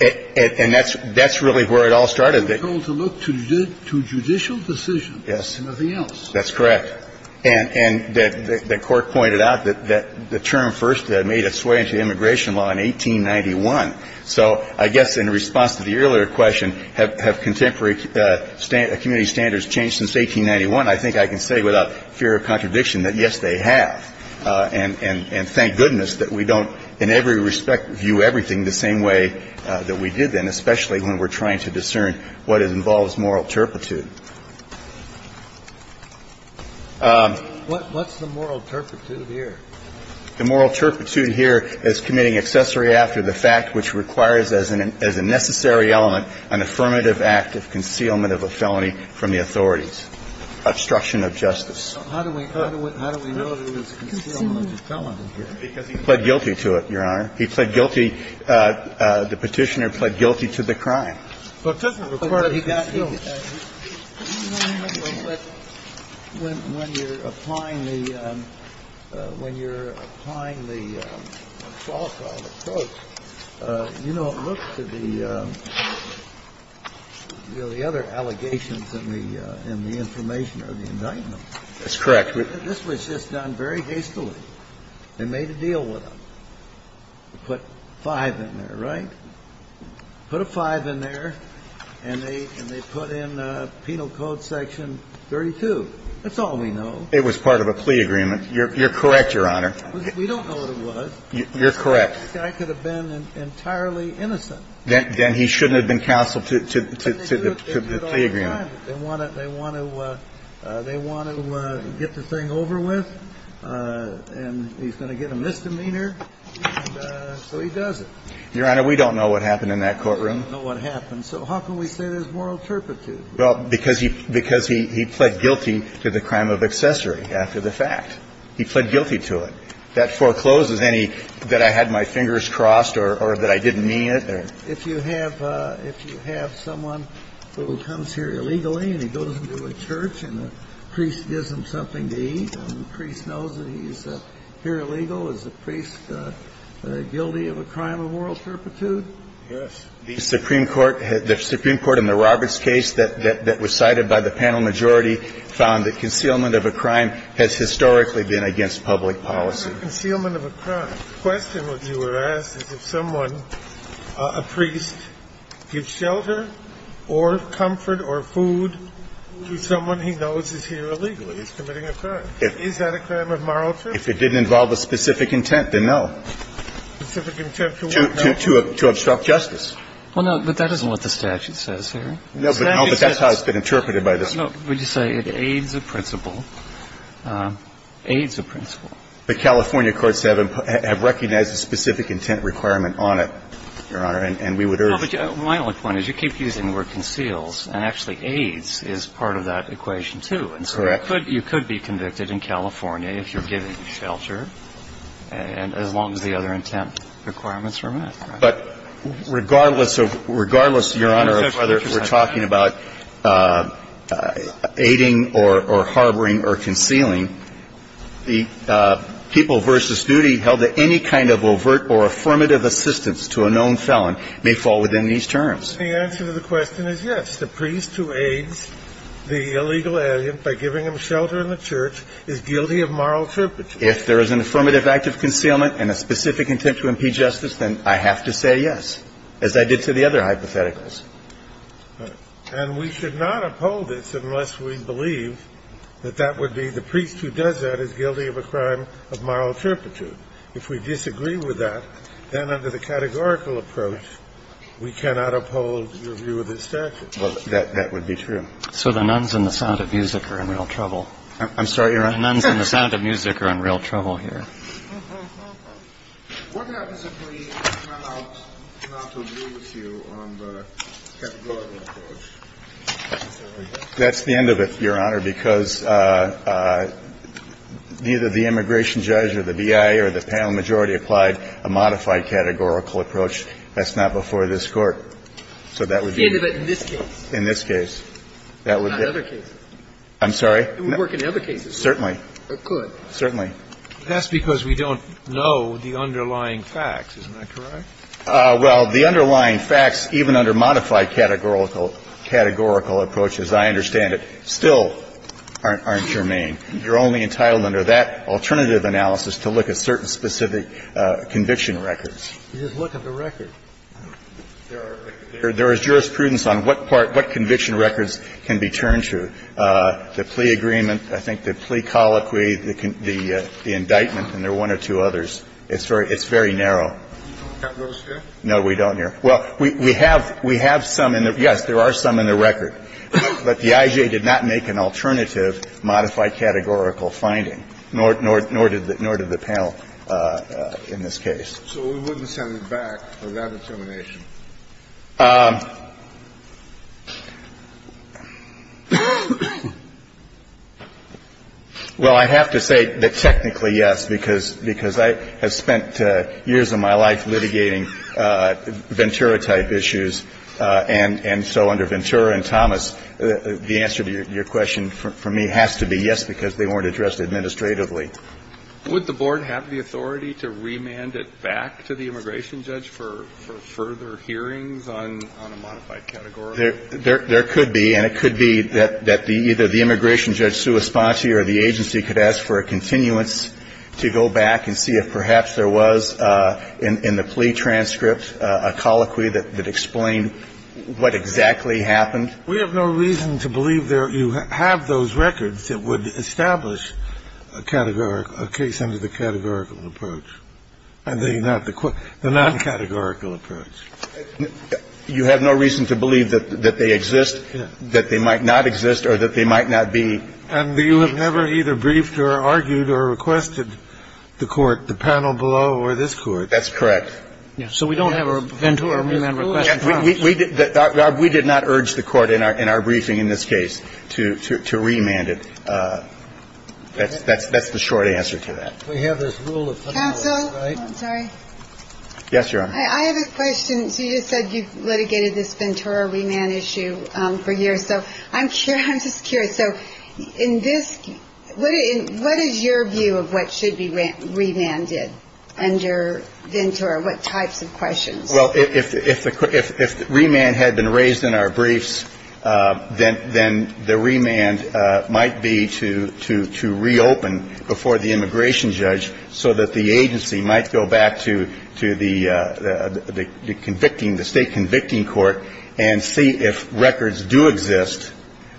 And that's really where it all started. We're told to look to judicial decisions and nothing else. Yes, that's correct. And the Court pointed out that the term first made its way into immigration law in 1891. So I guess in response to the earlier question, have contemporary community standards changed since 1891, I think I can say without fear of contradiction that, yes, they have. And thank goodness that we don't in every respect view everything the same way that we did then, especially when we're trying to discern what involves moral turpitude. What's the moral turpitude here? The moral turpitude here is committing accessory after the fact which requires as a necessary element an affirmative act of concealment of a felony from the authorities. Obstruction of justice. So how do we know there was a concealment of a felony here? Because he pled guilty to it, Your Honor. He pled guilty. The Petitioner pled guilty to the crime. But when you're applying the – when you're applying the falsified approach, you don't look to the other allegations in the information or the indictment. That's correct. This was just done very hastily. They made a deal with them. Put five in there, right? Put a five in there, and they put in Penal Code Section 32. That's all we know. It was part of a plea agreement. You're correct, Your Honor. We don't know what it was. You're correct. This guy could have been entirely innocent. Then he shouldn't have been counseled to the plea agreement. They want to get the thing over with, and he's going to get a misdemeanor, and so he does it. Your Honor, we don't know what happened in that courtroom. We don't know what happened. So how can we say there's moral turpitude? Well, because he pled guilty to the crime of accessory after the fact. He pled guilty to it. That forecloses any that I had my fingers crossed or that I didn't mean it. If you have someone who comes here illegally and he goes into a church and the priest gives him something to eat and the priest knows that he's here illegal, is the priest guilty of a crime of moral turpitude? Yes. The Supreme Court in the Roberts case that was cited by the panel majority found that concealment of a crime has historically been against public policy. Concealment of a crime. The question that you were asked is if someone, a priest, gives shelter or comfort or food to someone he knows is here illegally, he's committing a crime. Is that a crime of moral turpitude? If it didn't involve a specific intent, then no. Specific intent to what? To obstruct justice. Well, no, but that isn't what the statute says here. No, but that's how it's been interpreted by the statute. No, but you say it aids a principle. Aids a principle. The California courts have recognized a specific intent requirement on it, Your Honor, and we would urge you to. Well, but my only point is you keep using the word conceals, and actually aids is part of that equation, too. Correct. And so you could be convicted in California if you're giving shelter, and as long as the other intent requirements are met. But regardless of whether we're talking about aiding or harboring or concealing, the people versus duty held that any kind of overt or affirmative assistance to a known felon may fall within these terms. The answer to the question is yes. The priest who aids the illegal alien by giving him shelter in the church is guilty of moral turpitude. If there is an affirmative act of concealment and a specific intent to impede justice, then I have to say yes, as I did to the other hypotheticals. And we should not uphold this unless we believe that that would be the priest who does that is guilty of a crime of moral turpitude. If we disagree with that, then under the categorical approach, we cannot uphold your view of the statute. Well, that would be true. So the nuns and the sound of music are in real trouble. I'm sorry, Your Honor? The nuns and the sound of music are in real trouble here. What happens if we come out not to agree with you on the categorical approach? That's the end of it, Your Honor, because neither the immigration judge or the BIA or the panel majority applied a modified categorical approach. That's not before this Court. So that would be the end of it in this case. In this case. Not other cases. I'm sorry? It would work in other cases. Certainly. It could. Certainly. That's because we don't know the underlying facts. Isn't that correct? Well, the underlying facts, even under modified categorical approaches, I understand it, still aren't germane. You're only entitled under that alternative analysis to look at certain specific conviction records. You just look at the record. There is jurisprudence on what part, what conviction records can be turned to. The plea agreement, I think the plea colloquy, the indictment, and there are one or two others. It's very narrow. You don't have those here? No, we don't here. Well, we have some in there. Yes, there are some in the record. But the IJ did not make an alternative modified categorical finding, nor did the panel in this case. So we wouldn't send it back for that determination? Well, I have to say that technically, yes, because I have spent years of my life litigating Ventura-type issues, and so under Ventura and Thomas, the answer to your question for me has to be yes, because they weren't addressed administratively. Would the Board have the authority to remand it back to the immigration judge for further hearings on a modified categorical finding? There could be. And it could be that either the immigration judge's response here or the agency could ask for a continuance to go back and see if perhaps there was in the plea transcript a colloquy that explained what exactly happened. We have no reason to believe you have those records that would establish a categorical case under the categorical approach, the non-categorical approach. You have no reason to believe that they exist, that they might not exist, or that they might not be. And you have never either briefed or argued or requested the Court, the panel below or this Court? That's correct. So we don't have a Ventura remand request in front of us? We did not urge the Court in our briefing in this case to remand it. That's the short answer to that. We have this rule of putting it away, right? Counsel? I'm sorry. Yes, Your Honor. I have a question. So you just said you litigated this Ventura remand issue for years. So I'm just curious. So in this, what is your view of what should be remanded under Ventura? What types of questions? Well, if remand had been raised in our briefs, then the remand might be to reopen before the immigration judge so that the agency might go back to the convicting the state convicting court and see if records do exist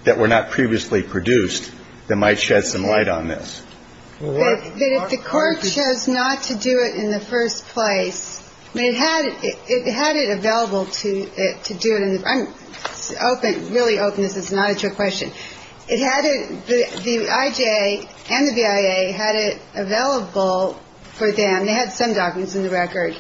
that were not previously produced that might shed some light on this. But if the Court chose not to do it in the first place, I mean, it had it available to do it in the first place. I'm open, really open. This is not a trick question. The IJA and the BIA had it available for them. They had some documents in the record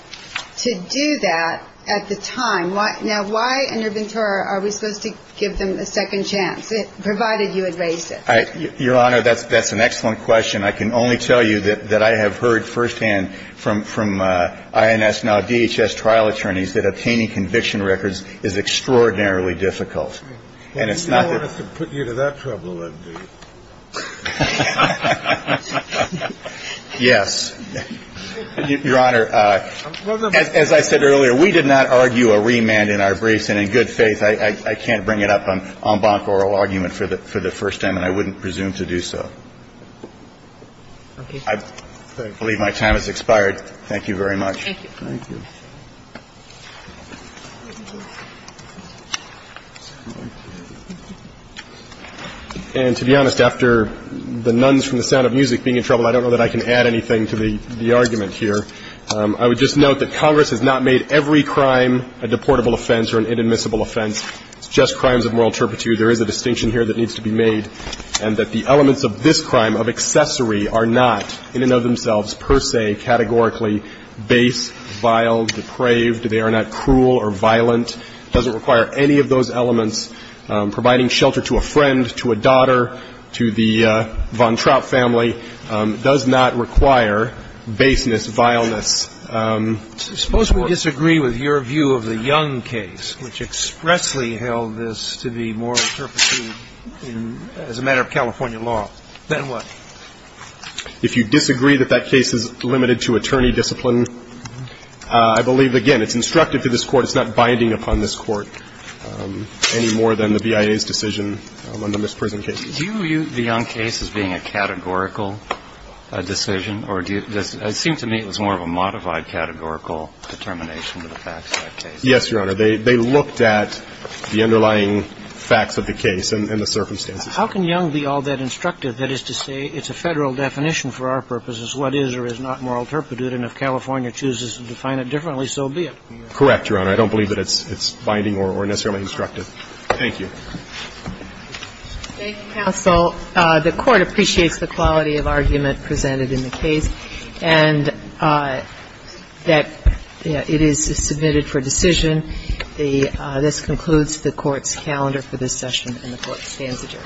to do that at the time. Now, why under Ventura are we supposed to give them a second chance, provided you had raised it? Your Honor, that's an excellent question. I can only tell you that I have heard firsthand from INS, now DHS, trial attorneys that obtaining conviction records is extraordinarily difficult. And it's not the ---- If they wanted to put you to that trouble, that would be. Yes. Your Honor, as I said earlier, we did not argue a remand in our briefs. And in good faith, I can't bring it up on bonk oral argument for the first time, and I wouldn't presume to do so. Okay. I believe my time has expired. Thank you very much. Thank you. Thank you. And to be honest, after the nuns from the Sound of Music being in trouble, I don't know that I can add anything to the argument here. I would just note that Congress has not made every crime a deportable offense or an inadmissible offense. It's just crimes of moral turpitude. There is a distinction here that needs to be made, and that the elements of this crime of accessory are not, in and of themselves, per se, categorically base, vile, depraved. They are not cruel or violent. It doesn't require any of those elements. Providing shelter to a friend, to a daughter, to the von Trapp family does not require baseness, vileness. Suppose we disagree with your view of the Young case, which expressly held this to be moral turpitude as a matter of California law. Then what? If you disagree that that case is limited to attorney discipline, I believe, again, it's instructive to this Court. It's not binding upon this Court any more than the BIA's decision on the Miss Prison case. Do you view the Young case as being a categorical decision, or does it seem to me it was more of a modified categorical determination to the facts of that case? Yes, Your Honor. They looked at the underlying facts of the case and the circumstances. How can Young be all that instructive? That is to say, it's a Federal definition for our purposes, what is or is not moral turpitude, and if California chooses to define it differently, so be it. Correct, Your Honor. I don't believe that it's binding or necessarily instructive. Thank you. Thank you, counsel. The Court appreciates the quality of argument presented in the case and that it is submitted for decision. This concludes the Court's calendar for this session, and the Court stands adjourned. Thank you.